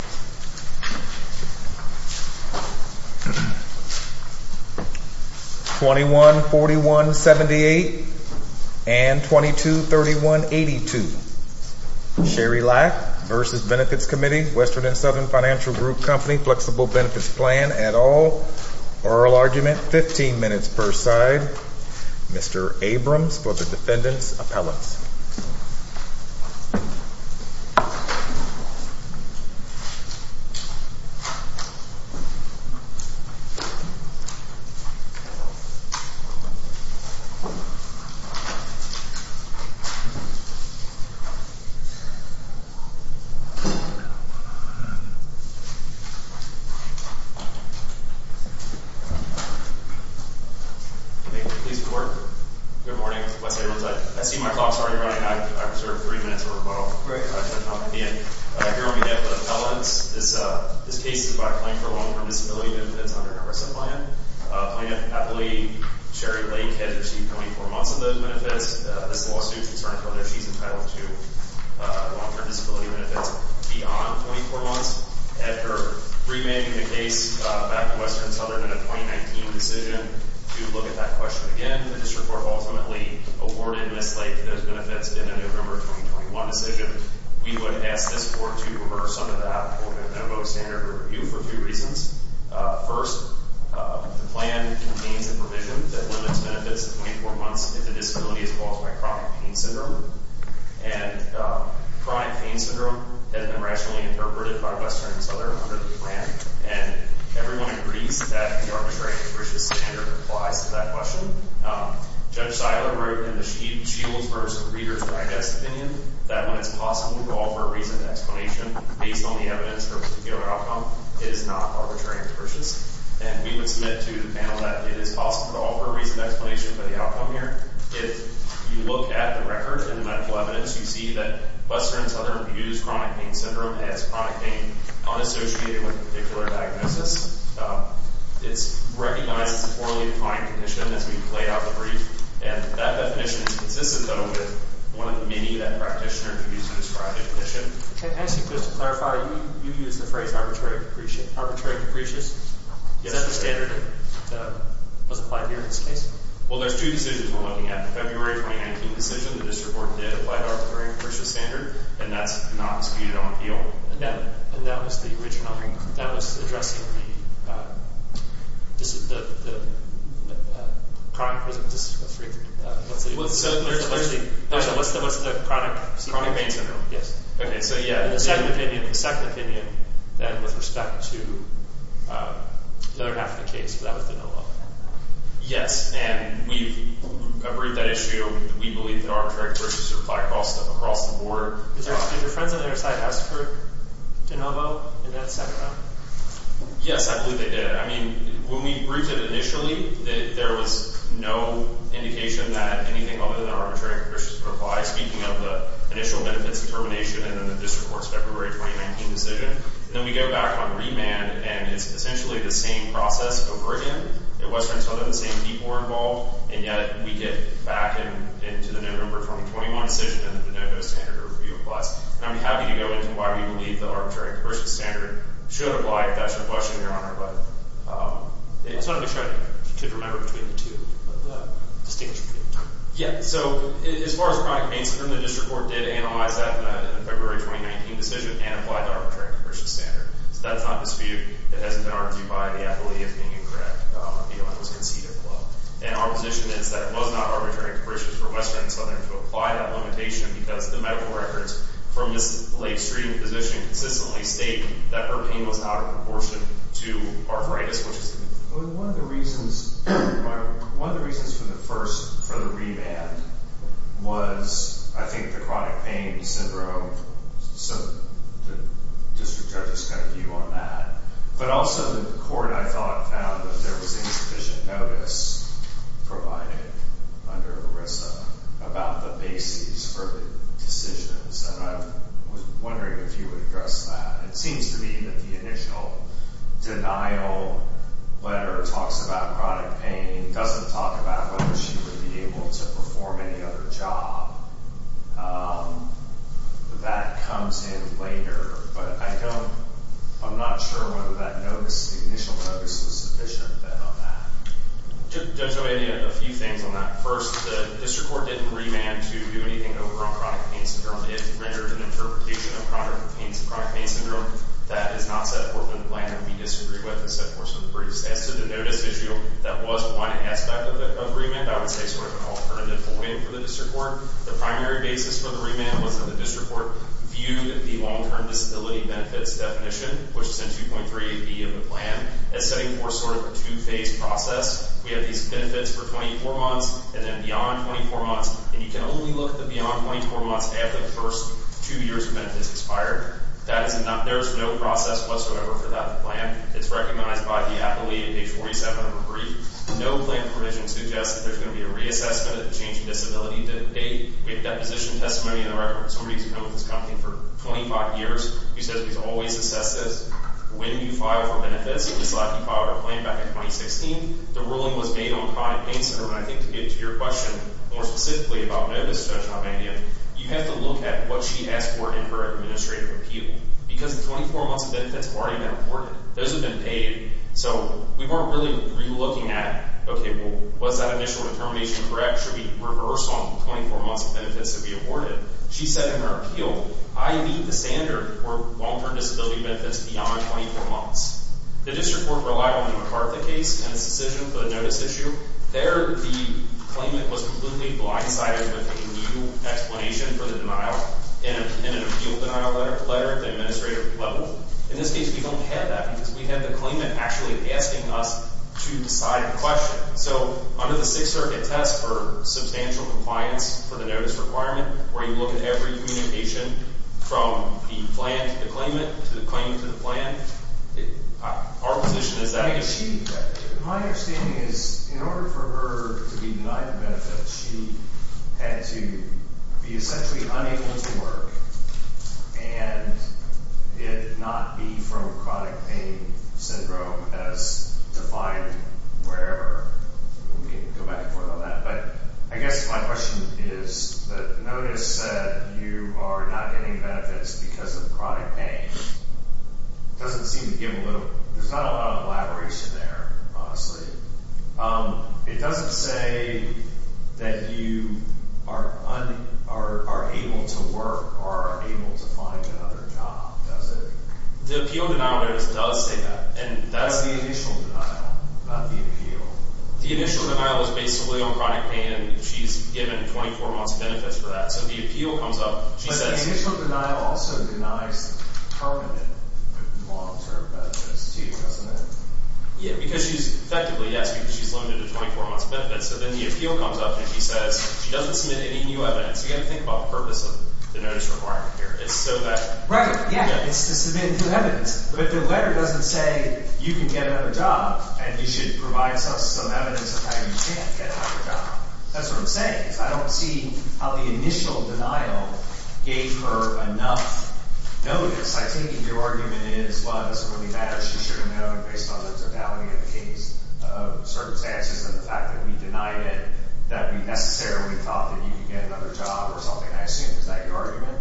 & Southern Financial Group Company, Flexible Benefits Plan, et al. Oral Argument, 15 minutes per side. Mr. Abrams for the Defendant's Appellants. Please report. Good morning, Mr. West Abrams. I see my clock is already running. I reserve three minutes of rebuttal. Great. Here on behalf of the appellants, this case is about a claim for long-term disability benefits under an arrest plan. Plaintiff happily, Sherry Leake, has achieved 24 months of those benefits. This lawsuit is concerning whether she's entitled to long-term disability benefits beyond 24 months. After remanding the case back to Western & Southern in a 2019 decision to look at that question again, the district court ultimately awarded Ms. Leake those benefits in a November 2021 decision. We would ask this court to reverse some of that and vote standard review for three reasons. First, the plan contains a provision that limits benefits to 24 months if the disability is caused by chronic pain syndrome. And chronic pain syndrome has been rationally interpreted by Western & Southern under the plan. And everyone agrees that the arbitrary and capricious standard applies to that question. Judge Seiler wrote in the Shields v. Reader's Digest opinion that when it's possible to offer a reasoned explanation based on the evidence for a particular outcome, it is not arbitrary and capricious. And we would submit to the panel that it is possible to offer a reasoned explanation for the outcome here. If you look at the records and the medical evidence, you see that Western & Southern views chronic pain syndrome as chronic pain unassociated with a particular diagnosis. It's recognized as a poorly defined condition, as we've laid out in the brief. And that definition is consistent, though, with one of the many that practitioners use to describe the condition. And actually, just to clarify, you use the phrase arbitrary and capricious? Is that the standard that was applied here in this case? Well, there's two decisions we're looking at. The February 2019 decision, the district court did apply arbitrary and capricious standard. And that's not disputed on appeal. And that was the original? That was addressing the chronic pain syndrome? Yes. Okay, so yeah. The second opinion, then, with respect to the other half of the case, that was the NOAA? Yes. And we've approved that issue. We believe that arbitrary and capricious apply across the board. Did your friends on the other side ask for de novo in that second round? Yes, I believe they did. I mean, when we approved it initially, there was no indication that anything other than arbitrary and capricious would apply, speaking of the initial benefits determination and then the district court's February 2019 decision. And then we go back on remand, and it's essentially the same process over again. It wasn't until the same people were involved, and yet we get back into the November 2021 decision, and the de novo standard applies. And I'm happy to go into why we believe that arbitrary and capricious standard should apply if that's your question, Your Honor. But I just wanted to make sure that you could remember between the two, the distinction between the two. Yeah. So as far as chronic pain, the district court did analyze that in the February 2019 decision and applied the arbitrary and capricious standard. So that's not disputed. It hasn't been argued by the athlete as being incorrect. The appealant was conceded the law. And our position is that it was not arbitrary and capricious for Western and Southern to apply that limitation because the medical records from this late street physician consistently state that her pain was out of proportion to arthritis. One of the reasons for the first, for the remand, was I think the chronic pain syndrome. So the district judge's got a view on that. But also the court, I thought, found that there was insufficient notice provided under ERISA about the basis for the decisions. And I was wondering if you would address that. It seems to me that the initial denial letter talks about chronic pain, doesn't talk about whether she would be able to perform any other job. That comes in later. But I don't, I'm not sure whether that notice, the initial notice was sufficient on that. Judge O'Hara, a few things on that. First, the district court didn't remand to do anything over on chronic pain syndrome. It rendered an interpretation of chronic pain syndrome that is not set forth in the plan. We disagree with and set forth some briefs. As to the notice issue, that was one aspect of remand. I would say sort of an alternative for the district court. The primary basis for the remand was that the district court viewed the long-term disability benefits definition, which is in 2.38B of the plan, as setting forth sort of a two-phase process. We have these benefits for 24 months and then beyond 24 months. And you can only look at the beyond 24 months after the first two years of benefits expired. That is not, there is no process whatsoever for that plan. It's recognized by the appellee in page 47 of the brief. No plan provision suggests that there's going to be a reassessment of the change in disability to date. We have deposition testimony in the record. Somebody's been with this company for 25 years. He says he's always assessed this. When do you file for benefits? We selected to file our plan back in 2016. The ruling was made on pride and pain center. And I think to get to your question more specifically about notice, Judge Albania, you have to look at what she asked for in her administrative appeal. Because the 24 months of benefits have already been awarded. Those have been paid. So we weren't really re-looking at, okay, well, was that initial determination correct? Should we reverse on the 24 months of benefits that we awarded? She said in her appeal, I need the standard for long-term disability benefits beyond 24 months. The district court relied on the MacArthur case and its decision for the notice issue. There the claimant was completely blindsided with a new explanation for the denial in an appeal denial letter at the administrative level. In this case, we don't have that because we have the claimant actually asking us to decide a question. So under the Sixth Circuit test for substantial compliance for the notice requirement where you look at every communication from the plan to the claimant to the claimant to the plan, our position is that we achieved that. My understanding is in order for her to be denied the benefits, she had to be essentially unable to work and it not be from chronic pain syndrome as defined wherever. We can go back and forth on that. But I guess my question is that notice said you are not getting benefits because of chronic pain. It doesn't seem to give a little. There's not a lot of elaboration there, honestly. It doesn't say that you are able to work or are able to find another job, does it? The appeal denial notice does say that. That's the initial denial, not the appeal. The initial denial is basically on chronic pain and she's given 24 months of benefits for that. So the appeal comes up. But the initial denial also denies permanent long-term benefits, too, doesn't it? Yeah, because she's effectively, yes, because she's limited to 24 months of benefits. So then the appeal comes up and she says she doesn't submit any new evidence. You have to think about the purpose of the notice requirement here. It's so that – Right, yeah, it's to submit new evidence. But the letter doesn't say you can get another job and you should provide some evidence of how you can't get another job. That's what I'm saying. I don't see how the initial denial gave her enough notice. I think your argument is, well, it doesn't really matter. She should have known based on the totality of the case of circumstances and the fact that we denied it that we necessarily thought that you could get another job or something. I assume. Is that your argument?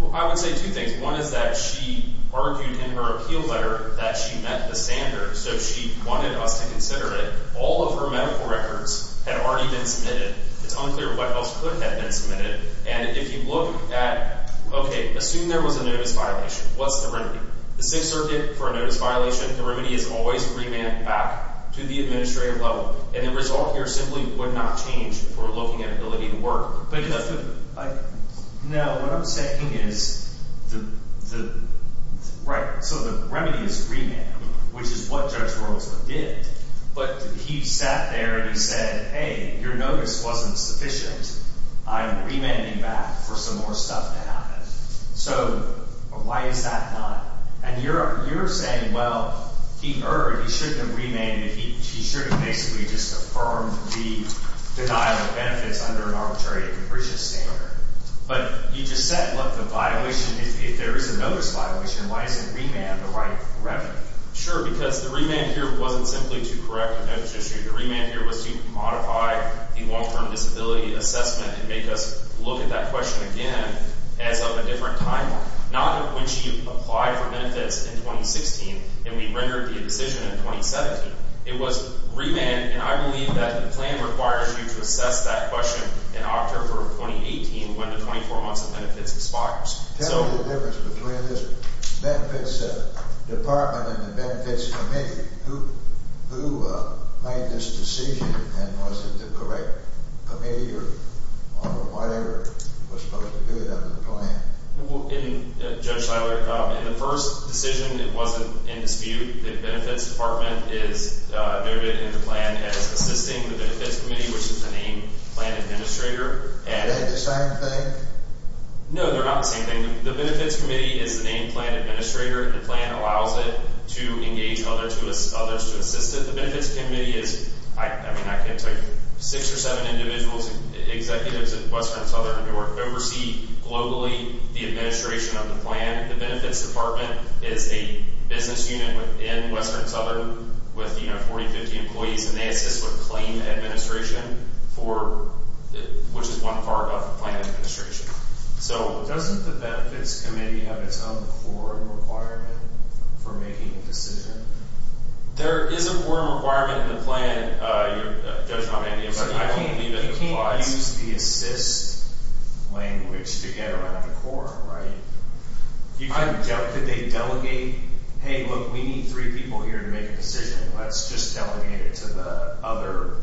Well, I would say two things. One is that she argued in her appeal letter that she met the standards. So she wanted us to consider it. All of her medical records had already been submitted. It's unclear what else could have been submitted. And if you look at – okay, assume there was a notice violation. What's the remedy? The Sixth Circuit, for a notice violation, the remedy is always remand back to the administrative level. And the result here simply would not change for looking at ability to work. But – No, what I'm saying is the – right, so the remedy is remand, which is what Judge Rosler did. But he sat there and he said, hey, your notice wasn't sufficient. I'm remanding back for some more stuff to happen. So why is that not – and you're saying, well, he erred. He shouldn't have remanded. He should have basically just affirmed the denial of benefits under an arbitrary capricious standard. But you just said, look, the violation – if there is a notice violation, why isn't remand the right remedy? Sure, because the remand here wasn't simply to correct a notice issue. The remand here was to modify the long-term disability assessment and make us look at that question again as of a different timeline. Not when she applied for benefits in 2016 and we rendered the decision in 2017. It was remand, and I believe that the plan requires you to assess that question in October of 2018 when the 24 months of benefits expires. Tell me the difference between this benefits department and the benefits committee. Who made this decision and was it the correct committee or whatever was supposed to do it under the plan? Well, Judge Siler, in the first decision it wasn't in dispute. The benefits department is noted in the plan as assisting the benefits committee, which is the main plan administrator. Are they the same thing? No, they're not the same thing. The benefits committee is the main plan administrator. The plan allows it to engage others to assist it. The benefits committee is – I mean, I could take six or seven individuals and executives at Western Southern to oversee globally the administration of the plan. The benefits department is a business unit within Western Southern with 40, 50 employees, and they assist with claim administration, which is one part of the plan administration. Doesn't the benefits committee have its own quorum requirement for making a decision? There is a quorum requirement in the plan. You can't use the assist language to get around the quorum, right? Could they delegate, hey, look, we need three people here to make a decision. Let's just delegate it to the other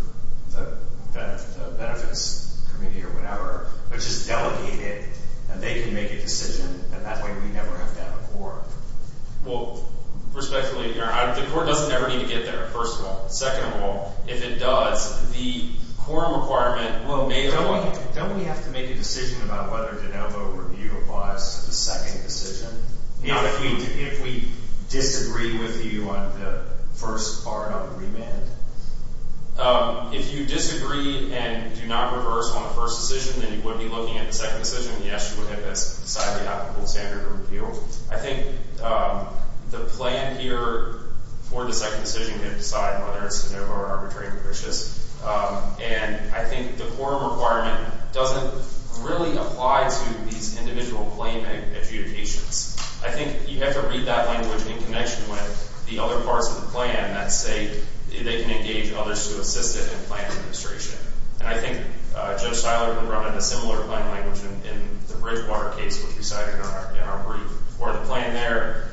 benefits committee or whatever. Let's just delegate it and they can make a decision, and that way we never have to have a quorum. Well, respectfully, the quorum doesn't ever need to get there, first of all. Second of all, if it does, the quorum requirement will – Don't we have to make a decision about whether de novo review applies to the second decision? If we disagree with you on the first part of the remand? If you disagree and do not reverse on the first decision, then you would be looking at the second decision. Yes, you would have that decidedly applicable standard of review. I think the plan here for the second decision can decide whether it's de novo or arbitrary malicious. And I think the quorum requirement doesn't really apply to these individual claim adjudications. I think you have to read that language in connection with the other parts of the plan that say they can engage others to assist it in plan administration. And I think Judge Steinler brought in a similar plan language in the Bridgewater case which we cited in our brief. We're in a plan there,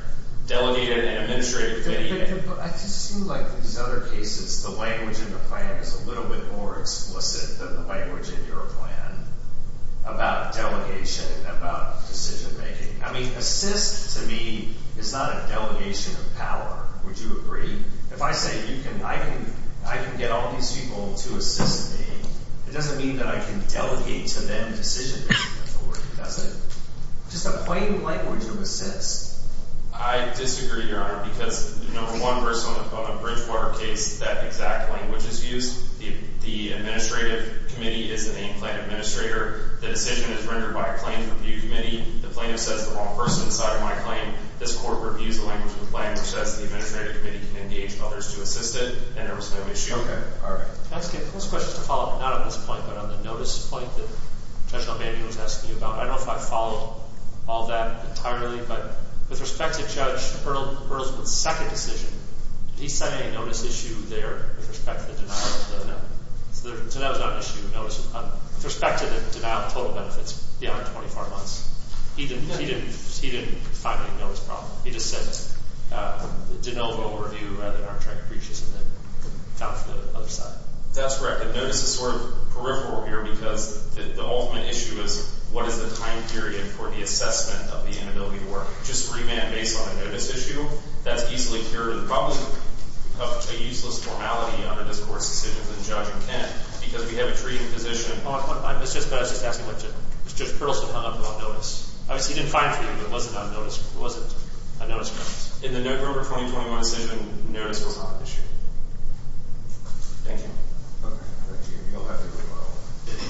delegated and administrative. But I just feel like in these other cases the language in the plan is a little bit more explicit than the language in your plan about delegation, about decision-making. I mean, assist to me is not a delegation of power. Would you agree? If I say I can get all these people to assist me, it doesn't mean that I can delegate to them decision-making authority, does it? Just a plain language of assist. I disagree, Your Honor, because, you know, in one person on the Bridgewater case, that exact language is used. The administrative committee is the main plan administrator. The decision is rendered by a plaintiff review committee. The plaintiff says the wrong person side of my claim. This court reviews the language in the plan, which says the administrative committee can engage others to assist it. And there was no issue. Okay. All right. Can I ask you a close question to follow up, not on this point, but on the notice point that Judge O'Malley was asking you about? I don't know if I followed all that entirely, but with respect to Judge Bertelsman's second decision, did he send any notice issue there with respect to the denial of the loan? So that was not an issue of notice. With respect to the denial of total benefits beyond 24 months. He didn't find any notice problem. He just sent a de novo overview of the contract breaches and then found for the other side. That's correct. And notice is sort of peripheral here because the ultimate issue is what is the time period for the assessment of the inability to work. Just remand based on a notice issue, that's easily cured. The problem of a useless normality under this court's decision is that the judge can't because we have a treating physician. I was just asking if Judge Bertelsman hung up about notice. He didn't find for you, but was it a notice problem? In the November 2021 decision, notice was not an issue. Thank you. Okay. Thank you. You'll have to leave now. Thank you.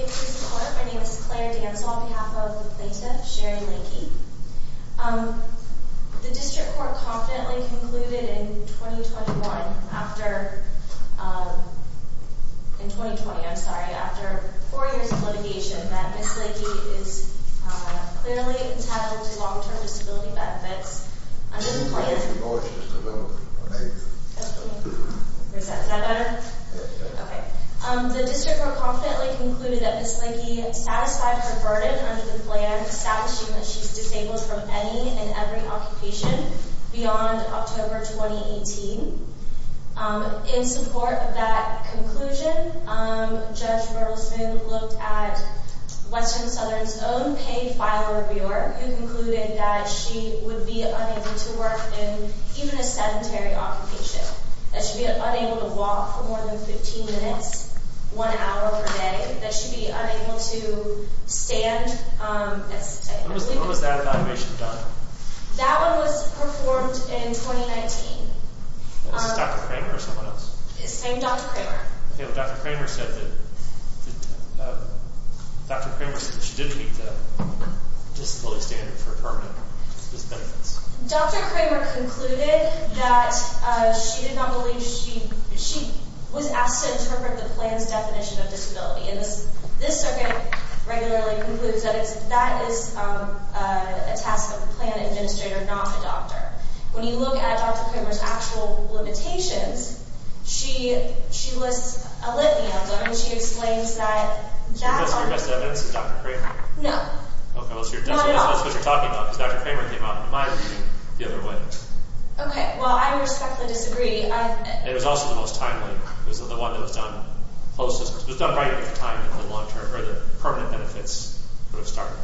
My name is Claire Dantz on behalf of the plaintiff, Sherry Linkey. The district court confidently concluded in 2021 after, in 2020, I'm sorry. After four years of litigation that Ms. Linkey is clearly entitled to long-term disability benefits under the plan. Is that better? Okay. The district court confidently concluded that Ms. Linkey satisfied her burden under the plan establishing that she's disabled from any and every occupation beyond October 2018. In support of that conclusion, Judge Bertelsman looked at Western Southern's own paid file reviewer who concluded that she would be unable to work in even a sedentary occupation. That she'd be unable to walk for more than 15 minutes, one hour per day. That she'd be unable to stand. When was that evaluation done? That one was performed in 2019. Is this Dr. Kramer or someone else? It's named Dr. Kramer. Okay. Well, Dr. Kramer said that she didn't meet the disability standard for permanent disability benefits. Dr. Kramer concluded that she did not believe she, she was asked to interpret the plan's definition of disability. And this circuit regularly concludes that that is a task of a plan administrator, not a doctor. When you look at Dr. Kramer's actual limitations, she lists a litany of them. And she explains that... You're guessing her best evidence is Dr. Kramer? No. Okay. Well, that's what you're talking about. Because Dr. Kramer came out in my view the other way. Okay. Well, I respectfully disagree. It was also the most timely. It was the one that was done closest. It was done right at the time that the long-term, or the permanent benefits would have started.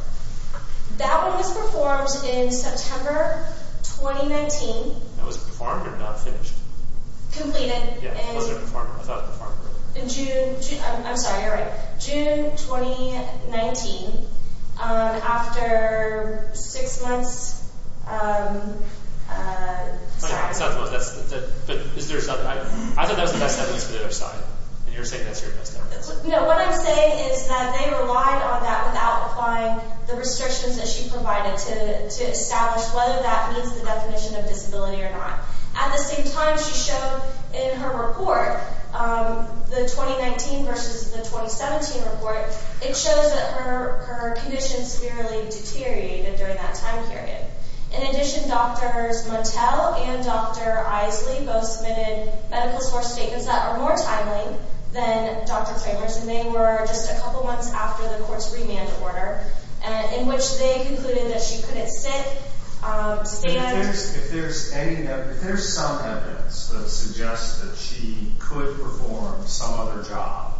That one was performed in September 2019. Now, was it performed or not finished? Completed. Yeah. Was it performed? I thought it was performed. I'm sorry. You're right. June 2019, after six months... Okay. It's not the most... Is there something... I thought that was the best evidence for the other side. And you're saying that's your best evidence. No. What I'm saying is that they relied on that without applying the restrictions that she provided to establish whether that meets the definition of disability or not. At the same time, she showed in her report, the 2019 versus the 2017 report, it shows that her condition severely deteriorated during that time period. In addition, Drs. Motel and Dr. Isley both submitted medical source statements that are more timely than Dr. Kramer's. And they were just a couple months after the court's remand order, in which they concluded that she couldn't sit, stand... If there's some evidence that suggests that she could perform some other job,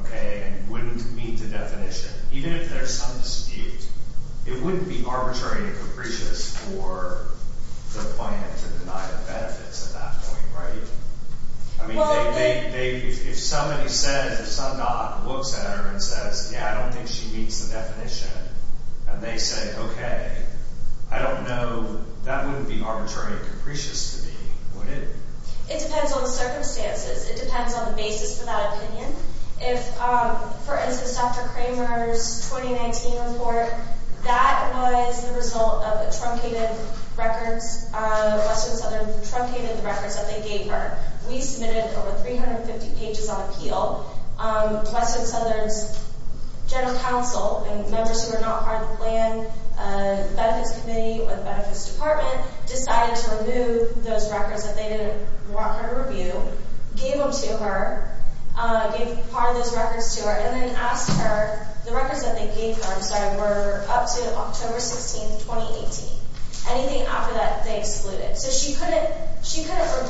okay, and wouldn't meet the definition, even if there's some dispute, it wouldn't be arbitrary and capricious for the client to deny the benefits at that point, right? I mean, if somebody said, if some doc looks at her and says, yeah, I don't think she meets the definition, and they say, okay, I don't know, that wouldn't be arbitrary and capricious to me, would it? It depends on the circumstances. It depends on the basis for that opinion. If, for instance, Dr. Kramer's 2019 report, that was the result of a truncated records, Western Southern truncated the records that they gave her. We submitted over 350 pages on appeal. Western Southern's general counsel and members who were not part of the plan, benefits committee or the benefits department, decided to remove those records that they didn't want her to review, gave them to her, gave part of those records to her, and then asked her... The records that they gave her, I'm sorry, were up to October 16, 2018. Anything after that, they excluded. So she couldn't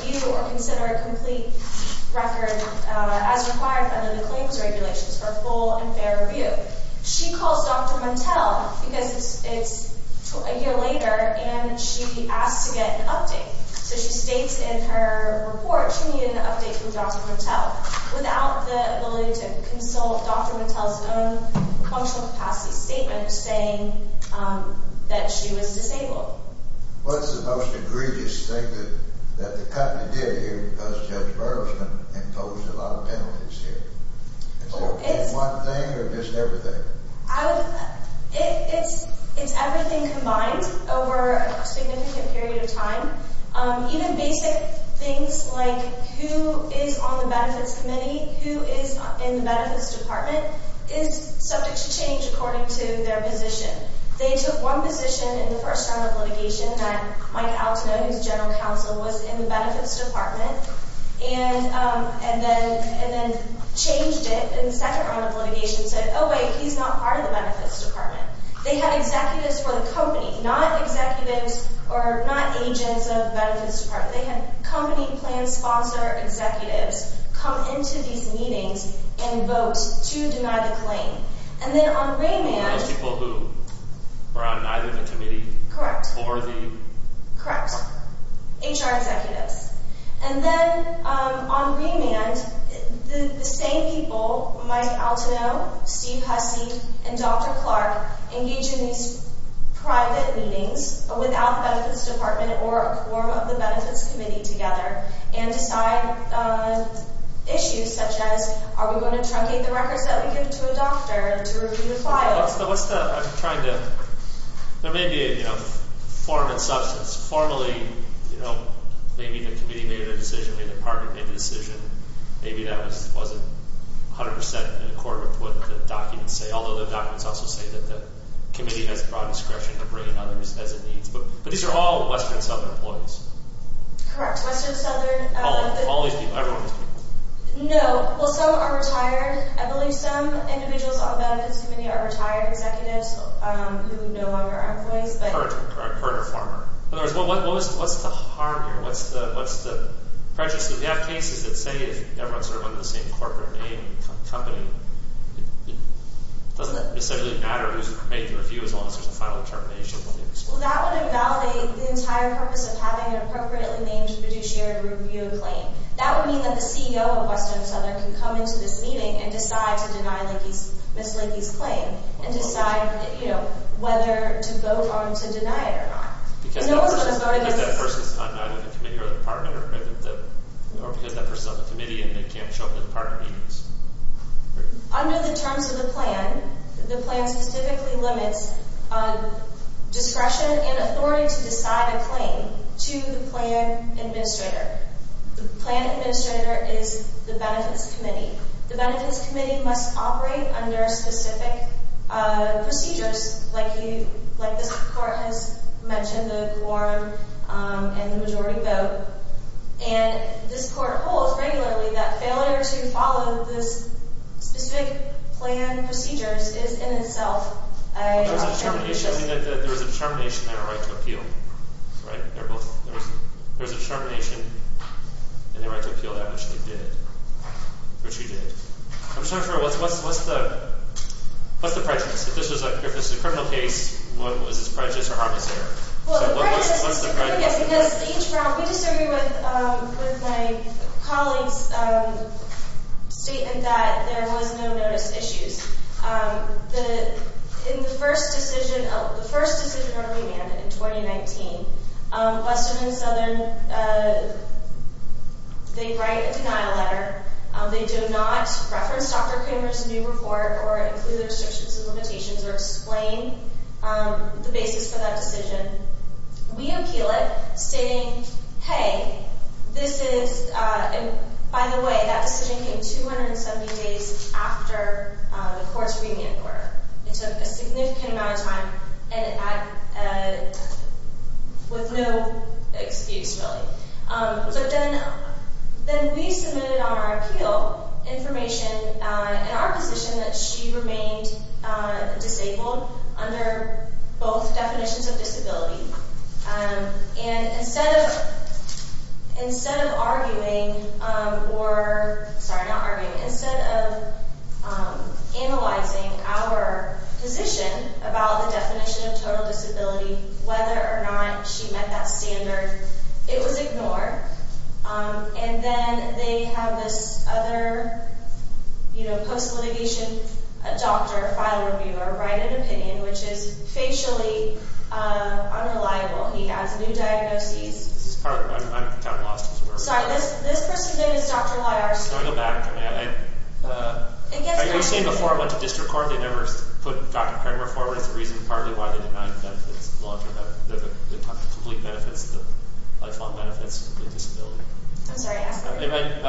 review or consider a complete record as required under the claims regulations for a full and fair review. She calls Dr. Montel because it's a year later, and she'd be asked to get an update. So she states in her report she needed an update from Dr. Montel without the ability to consult Dr. Montel's own functional capacity statement saying that she was disabled. What's the most egregious thing that the company did here because Judge Berkman imposed a lot of penalties here? Is it one thing or just everything? It's everything combined over a significant period of time. Even basic things like who is on the benefits committee, who is in the benefits department, is subject to change according to their position. They took one position in the first round of litigation that Mike Altenow, who's general counsel, was in the benefits department and then changed it in the second round of litigation and said, oh, wait, he's not part of the benefits department. They had executives for the company, not executives or not agents of the benefits department. They had company plan sponsor executives come into these meetings and vote to deny the claim. Who are those people who were on either of the committees? Correct. Or the? Correct. HR executives. And then on remand, the same people, Mike Altenow, Steve Hussey, and Dr. Clark, engage in these private meetings without the benefits department or a quorum of the benefits committee together and decide issues such as are we going to truncate the records that we give to a doctor to review the files? What's the, I'm trying to, there may be a form and substance. Formally, you know, maybe the committee made a decision, maybe the department made a decision, maybe that wasn't 100% in accord with what the documents say, although the documents also say that the committee has broad discretion to bring in others as it needs. But these are all Western Southern employees. Correct. Western Southern. All these people. Everyone. No. Well, some are retired. I believe some individuals on the benefits committee are retired executives who no longer are employees. Current or former. In other words, what's the harm here? What's the prejudice? If you have cases that say everyone's sort of under the same corporate name, company, doesn't it necessarily matter who's made the review as long as there's a final determination? Well, that would invalidate the entire purpose of having an appropriately named fiduciary review a claim. That would mean that the CEO of Western Southern can come into this meeting and decide to deny Ms. Leakey's claim and decide, you know, whether to vote on to deny it or not. Because that person's on either the committee or the department or because that person's on the committee and they can't show up to department meetings. Under the terms of the plan, the plan specifically limits discretion and authority to decide a claim to the plan administrator. The plan administrator is the benefits committee. The benefits committee must operate under specific procedures like this court has mentioned, the quorum and the majority vote. And this court holds regularly that failure to follow the specific plan procedures is in itself a determination. There's a determination and a right to appeal. Right? There's a determination and a right to appeal that, which they did, which you did. I'm just wondering, what's the prejudice? If this is a criminal case, what is this prejudice or harm is there? Well, the prejudice is a criminal case because we disagree with my colleagues' statement that there was no notice issues. In the first decision, the first decision that we made in 2019, Western and Southern, they write a denial letter. They do not reference Dr. Kramer's new report or include the restrictions and limitations or explain the basis for that decision. We appeal it, stating, hey, this is, by the way, that decision came 270 days after the court's remand order. It took a significant amount of time and with no excuse, really. So then we submitted on our appeal information in our position that she remained disabled under both definitions of disability. And instead of arguing or, sorry, not arguing, instead of analyzing our position about the definition of total disability, whether or not she met that standard, it was ignored. And then they have this other, you know, post-litigation doctor, a file reviewer, write an opinion, which is facially unreliable. He has new diagnoses. This is part of it. I'm kind of lost as to where we are. Sorry, this person's name is Dr. Lyar. Can I go back? Are you saying before it went to district court they never put Dr. Kramer forward as the reason partly why they denied benefits? They talked about the complete benefits, the lifelong benefits, the disability. I'm sorry, I asked a question.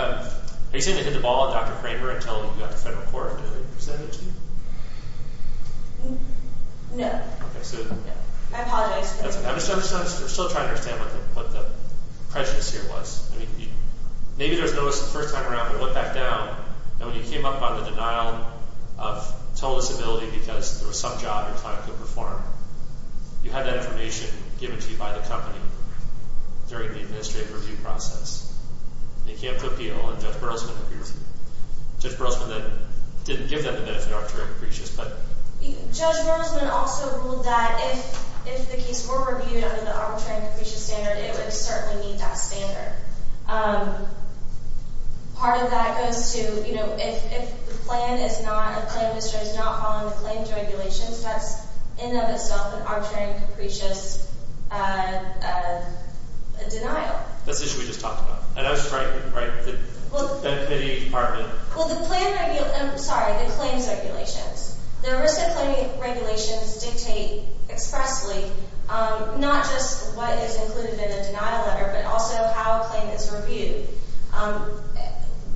Are you saying they hit the ball on Dr. Kramer until it got to federal court? Is that it? No. Okay, so. I apologize. We're still trying to understand what the prescience here was. I mean, maybe there's notice the first time around, but look back down. And when you came up on the denial of total disability because there was some job your client could perform, you had that information given to you by the company during the administrative review process. And you came up to appeal, and Judge Burleson appeared to you. Judge Burleson then didn't give them the benefit of arbitrary capricious, but. Judge Burleson also ruled that if the case were reviewed under the arbitrary and capricious standard, it would certainly meet that standard. Part of that goes to, you know, if the plan is not, if the plan is not following the claims regulations, that's in and of itself an arbitrary and capricious denial. That's the issue we just talked about. And I was trying to, right, the committee department. Well, the plan, I'm sorry, the claims regulations. The risk of claim regulations dictate expressly not just what is included in the denial letter, but also how a claim is reviewed.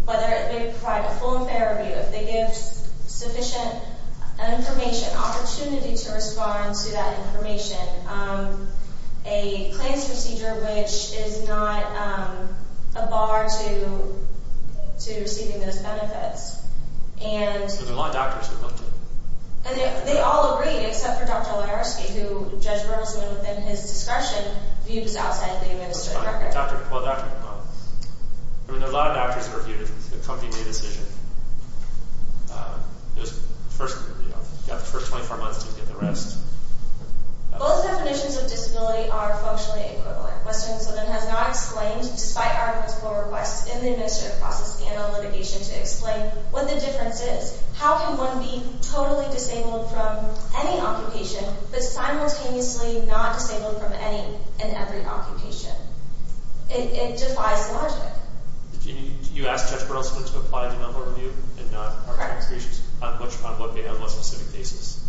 Whether they provide a full and fair review. If they give sufficient information, opportunity to respond to that information. A claims procedure which is not a bar to receiving those benefits. There were a lot of doctors who looked at it. And they all agreed, except for Dr. Wajarski, who Judge Burleson, within his discretion, viewed as outside the administrative record. Well, Dr. McMullin. I mean, there were a lot of doctors who reviewed it. The company made a decision. It was first, you know, got the first 24 months to get the rest. Both definitions of disability are functionally equivalent. Western Southern has not explained, despite our request in the administrative process and our litigation to explain what the difference is. How can one be totally disabled from any occupation, but simultaneously not disabled from any and every occupation? It defies logic. You asked Judge Burleson to apply denial of review and not our discretion. Correct. On what specific cases?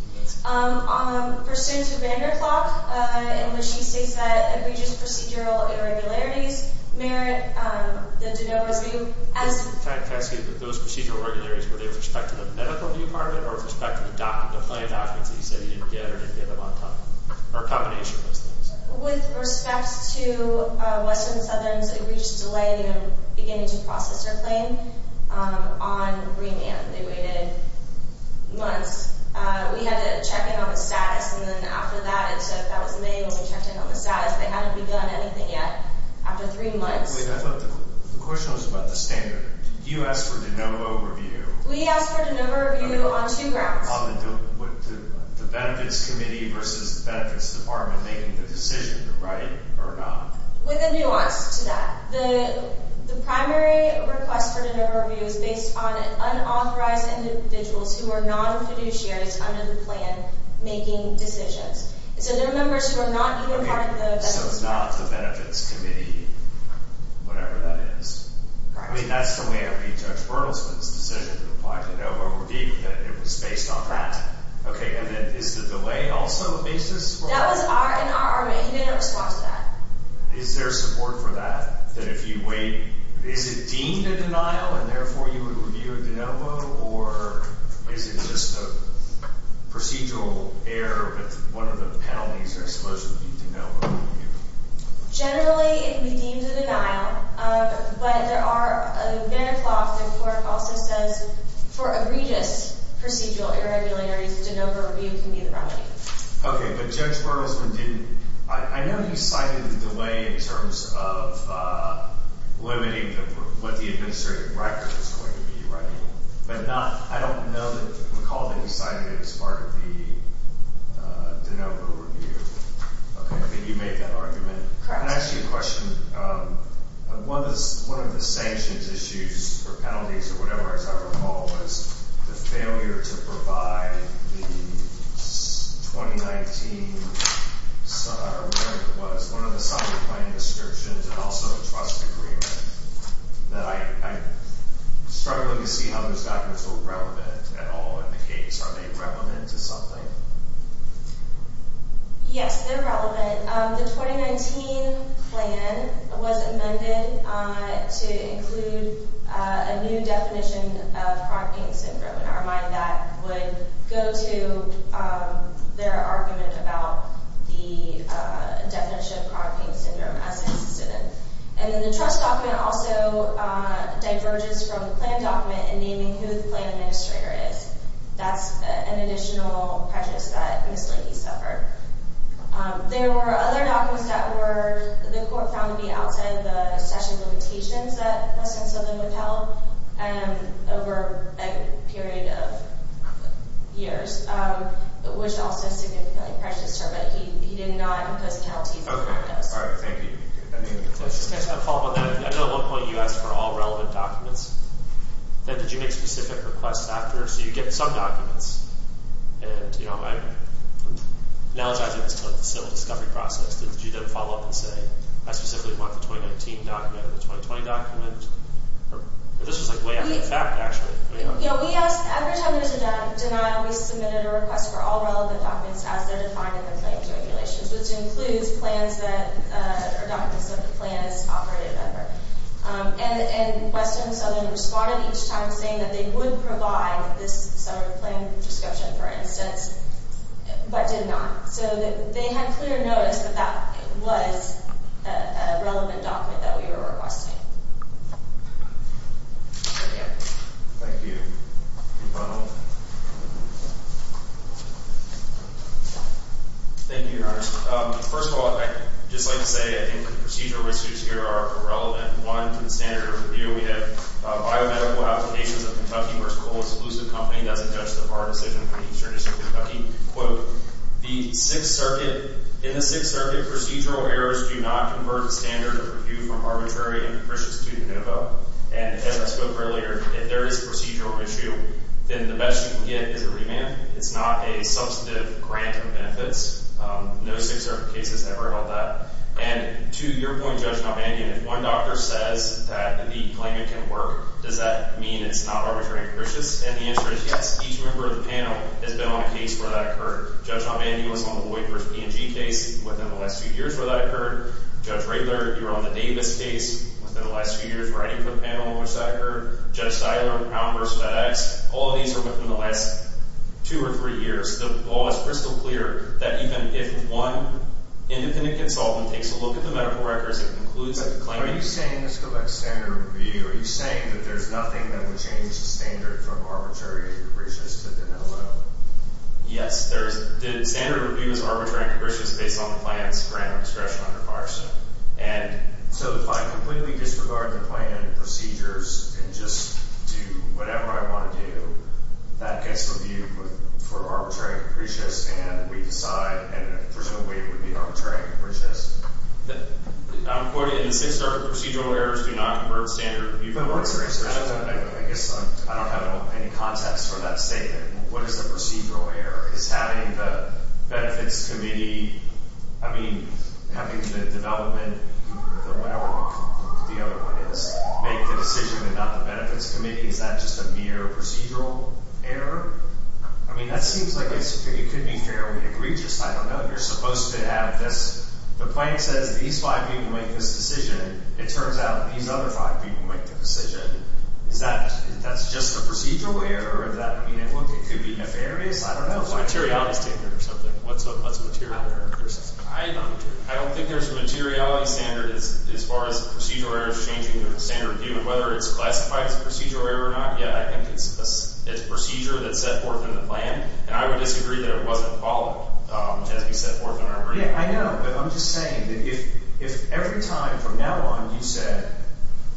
Pursuant to Vanderklok, in which he states that egregious procedural irregularities merit the denial of review. Can I ask you, those procedural irregularities, were they with respect to the medical department or with respect to the doctor, the plain documents that you said you didn't get or didn't get them on time? Or a combination of those things? With respect to Western Southern's egregious delay in beginning to process their claim on remand. They waited months. We had to check in on the status. And then after that, it took, that was May when we checked in on the status. They hadn't begun anything yet after three months. The question was about the standard. You asked for denial of review. We asked for denial of review on two grounds. On the benefits committee versus the benefits department making the decision, right or not. With a nuance to that. The primary request for denial of review is based on unauthorized individuals who are non-fiduciaries under the plan making decisions. So they're members who are not even part of the benefits committee. So it's not the benefits committee, whatever that is. Correct. I mean, that's the way I read Judge Bertelsmann's decision to apply for denial of review, that it was based on that. Correct. Okay. And then is the delay also a basis for that? That was in our array. He didn't respond to that. Is there support for that? That if you wait, is it deemed a denial and therefore you would review it de novo? Or is it just a procedural error that one of the penalties are supposed to be de novo? Generally, it would be deemed a denial. But there are, Vanderkloft, the court also says, for egregious procedural irregularities, de novo review can be the remedy. Okay. But Judge Bertelsmann didn't. I know you cited the delay in terms of limiting what the administrative record was going to be, right? But not, I don't know that, recall that you cited it as part of the de novo review. Okay. I think you made that argument. Correct. Can I ask you a question? One of the sanctions issues or penalties or whatever it is I recall was the failure to provide the 2019, I don't know what it was, one of the subject line restrictions and also the trust agreement. I'm struggling to see how those documents were relevant at all in the case. Are they relevant to something? Yes, they're relevant. The 2019 plan was amended to include a new definition of Crohn's pain syndrome. In our mind, that would go to their argument about the definition of Crohn's pain syndrome as it existed. And then the trust document also diverges from the plan document in naming who the plan administrator is. That's an additional prejudice that Ms. Linke suffered. There were other documents that were, the court found to be outside of the statute of limitations that Ms. Linke would have held over a period of years, which also significantly prejudiced her. But he did not impose penalties on her. Okay. All right. Thank you. I just have a follow-up on that. I know at one point you asked for all relevant documents. Then did you make specific requests after? So you get some documents. And, you know, I'm analogizing this to a civil discovery process. Did you then follow up and say, I specifically want the 2019 document or the 2020 document? Or this was, like, way after the fact, actually. You know, we asked, every time there's a denial, we submitted a request for all relevant documents as they're defined in the plan's regulations, which includes plans that are documents that the plan has operated under. And Western and Southern responded each time saying that they would provide this sort of plan description, for instance, but did not. So they had clear notice that that was a relevant document that we were requesting. Thank you. Thank you. Thank you, Your Honor. First of all, I'd just like to say I think the procedural issues here are irrelevant. One, to the standard of review, we have biomedical applications of Kentucky versus Cole's Illusive Company. That's a judge-the-bar decision for the Eastern District of Kentucky. Quote, in the Sixth Circuit, procedural errors do not convert the standard of review from arbitrary and capricious to de novo. And as I spoke earlier, if there is a procedural issue, then the best you can get is a remand. It's not a substantive grant of benefits. No Sixth Circuit case has ever held that. And to your point, Judge Notman, if one doctor says that the claimant can work, does that mean it's not arbitrary and capricious? And the answer is yes. Each member of the panel has been on a case where that occurred. Judge Notman, you were on the Voight v. P&G case within the last few years where that occurred. Judge Raebler, you were on the Davis case within the last few years writing for the panel in which that occurred. Judge Siler, Almers, FedEx, all of these are within the last two or three years. The law is crystal clear that even if one independent consultant takes a look at the medical records and concludes that the claimant Are you saying, let's go back to standard of review, are you saying that there's nothing that would change the standard from arbitrary and capricious to de novo? Yes, there is. The standard of review is arbitrary and capricious based on the client's grant of discretion under FARSA. And so if I completely disregard the plan and procedures and just do whatever I want to do, that gets reviewed for arbitrary and capricious And we decide, and there's no way it would be arbitrary and capricious. I'm quoting, and since our procedural errors do not convert standard of review, I guess I don't have any context for that statement. What is the procedural error? Is having the benefits committee, I mean, having the development, whatever the other one is, make the decision and not the benefits committee? Is that just a mere procedural error? I mean, that seems like it could be fairly egregious. I don't know. You're supposed to have this. The plan says these five people make this decision. It turns out these other five people make the decision. Is that, that's just a procedural error? Is that, I mean, it could be nefarious. I don't know. Materiality standard or something. What's a materiality standard? I don't think there's a materiality standard as far as procedural errors changing the standard of review. And whether it's classified as a procedural error or not, yeah, I think it's a procedure that's set forth in the plan. And I would disagree that it wasn't followed as we set forth in our agreement. Yeah, I know. But I'm just saying that if every time from now on you said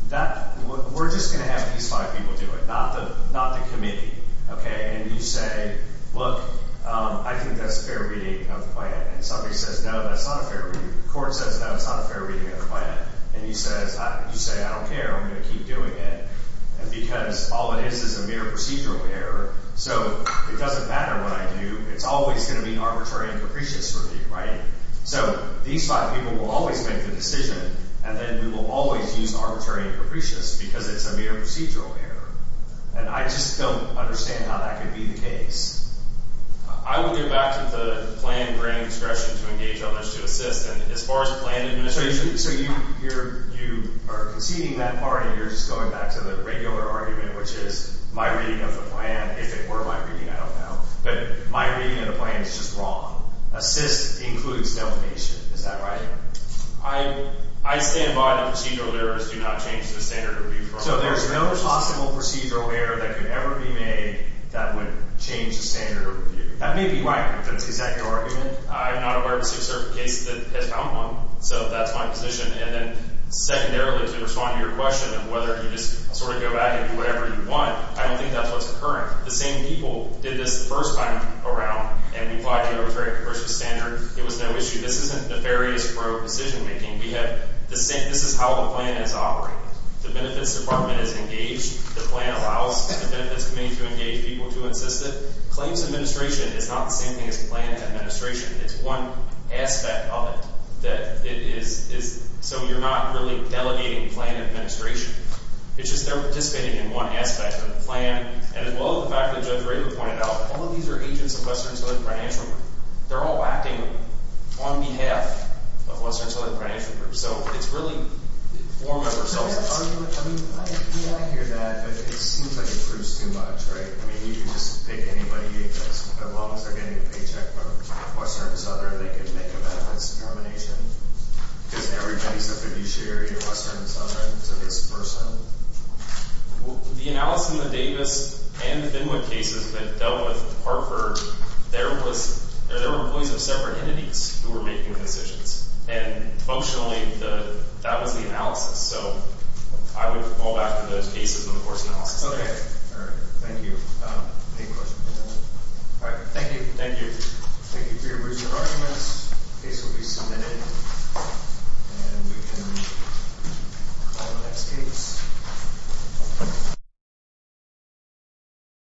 that we're just going to have these five people do it, not the committee. Okay. And you say, look, I think that's a fair reading of the plan. And somebody says, no, that's not a fair reading. The court says, no, it's not a fair reading of the plan. And you say, I don't care. I'm going to keep doing it because all it is is a mere procedural error. So it doesn't matter what I do. It's always going to be arbitrary and capricious for me, right? So these five people will always make the decision. And then we will always use arbitrary and capricious because it's a mere procedural error. And I just don't understand how that could be the case. I would go back to the plan granting discretion to engage others to assist. And as far as plan administration, so you are conceding that part and you're just going back to the regular argument, which is my reading of the plan. If it were my reading, I don't know. But my reading of the plan is just wrong. Assist includes delineation. Is that right? I stand by the procedural errors do not change the standard of review. So there's no possible procedural error that could ever be made that would change the standard of review. That may be right. But is that your argument? I'm not aware of a certain case that has found one. So that's my position. And then secondarily, to respond to your question of whether you just sort of go back and do whatever you want, I don't think that's what's occurring. The same people did this the first time around. And we applied the arbitrary coercive standard. It was no issue. This isn't nefarious pro-decision making. This is how the plan is operating. The benefits department is engaged. The plan allows the benefits committee to engage people to assist it. Claims administration is not the same thing as plan administration. It's one aspect of it. So you're not really delegating plan administration. It's just they're participating in one aspect of the plan. And as well as the fact that Judge Rager pointed out, all of these are agents of Western Southern Financial Group. They're all acting on behalf of Western Southern Financial Group. So it's really form of ourselves. I hear that, but it seems like it proves too much, right? I mean, you can just pick anybody as long as they're getting a paycheck from Western Southern. They can make a benefits determination. Because everybody's a fiduciary of Western Southern to this person. The analysis in the Davis and Finwood cases that dealt with Hartford, there were employees of separate entities who were making decisions. And functionally, that was the analysis. So I would fall back to those cases with the course analysis. Okay. All right. Thank you. Any questions? All right. Thank you. Thank you. Thank you for your recent arguments. Case will be submitted. And we can call the next case.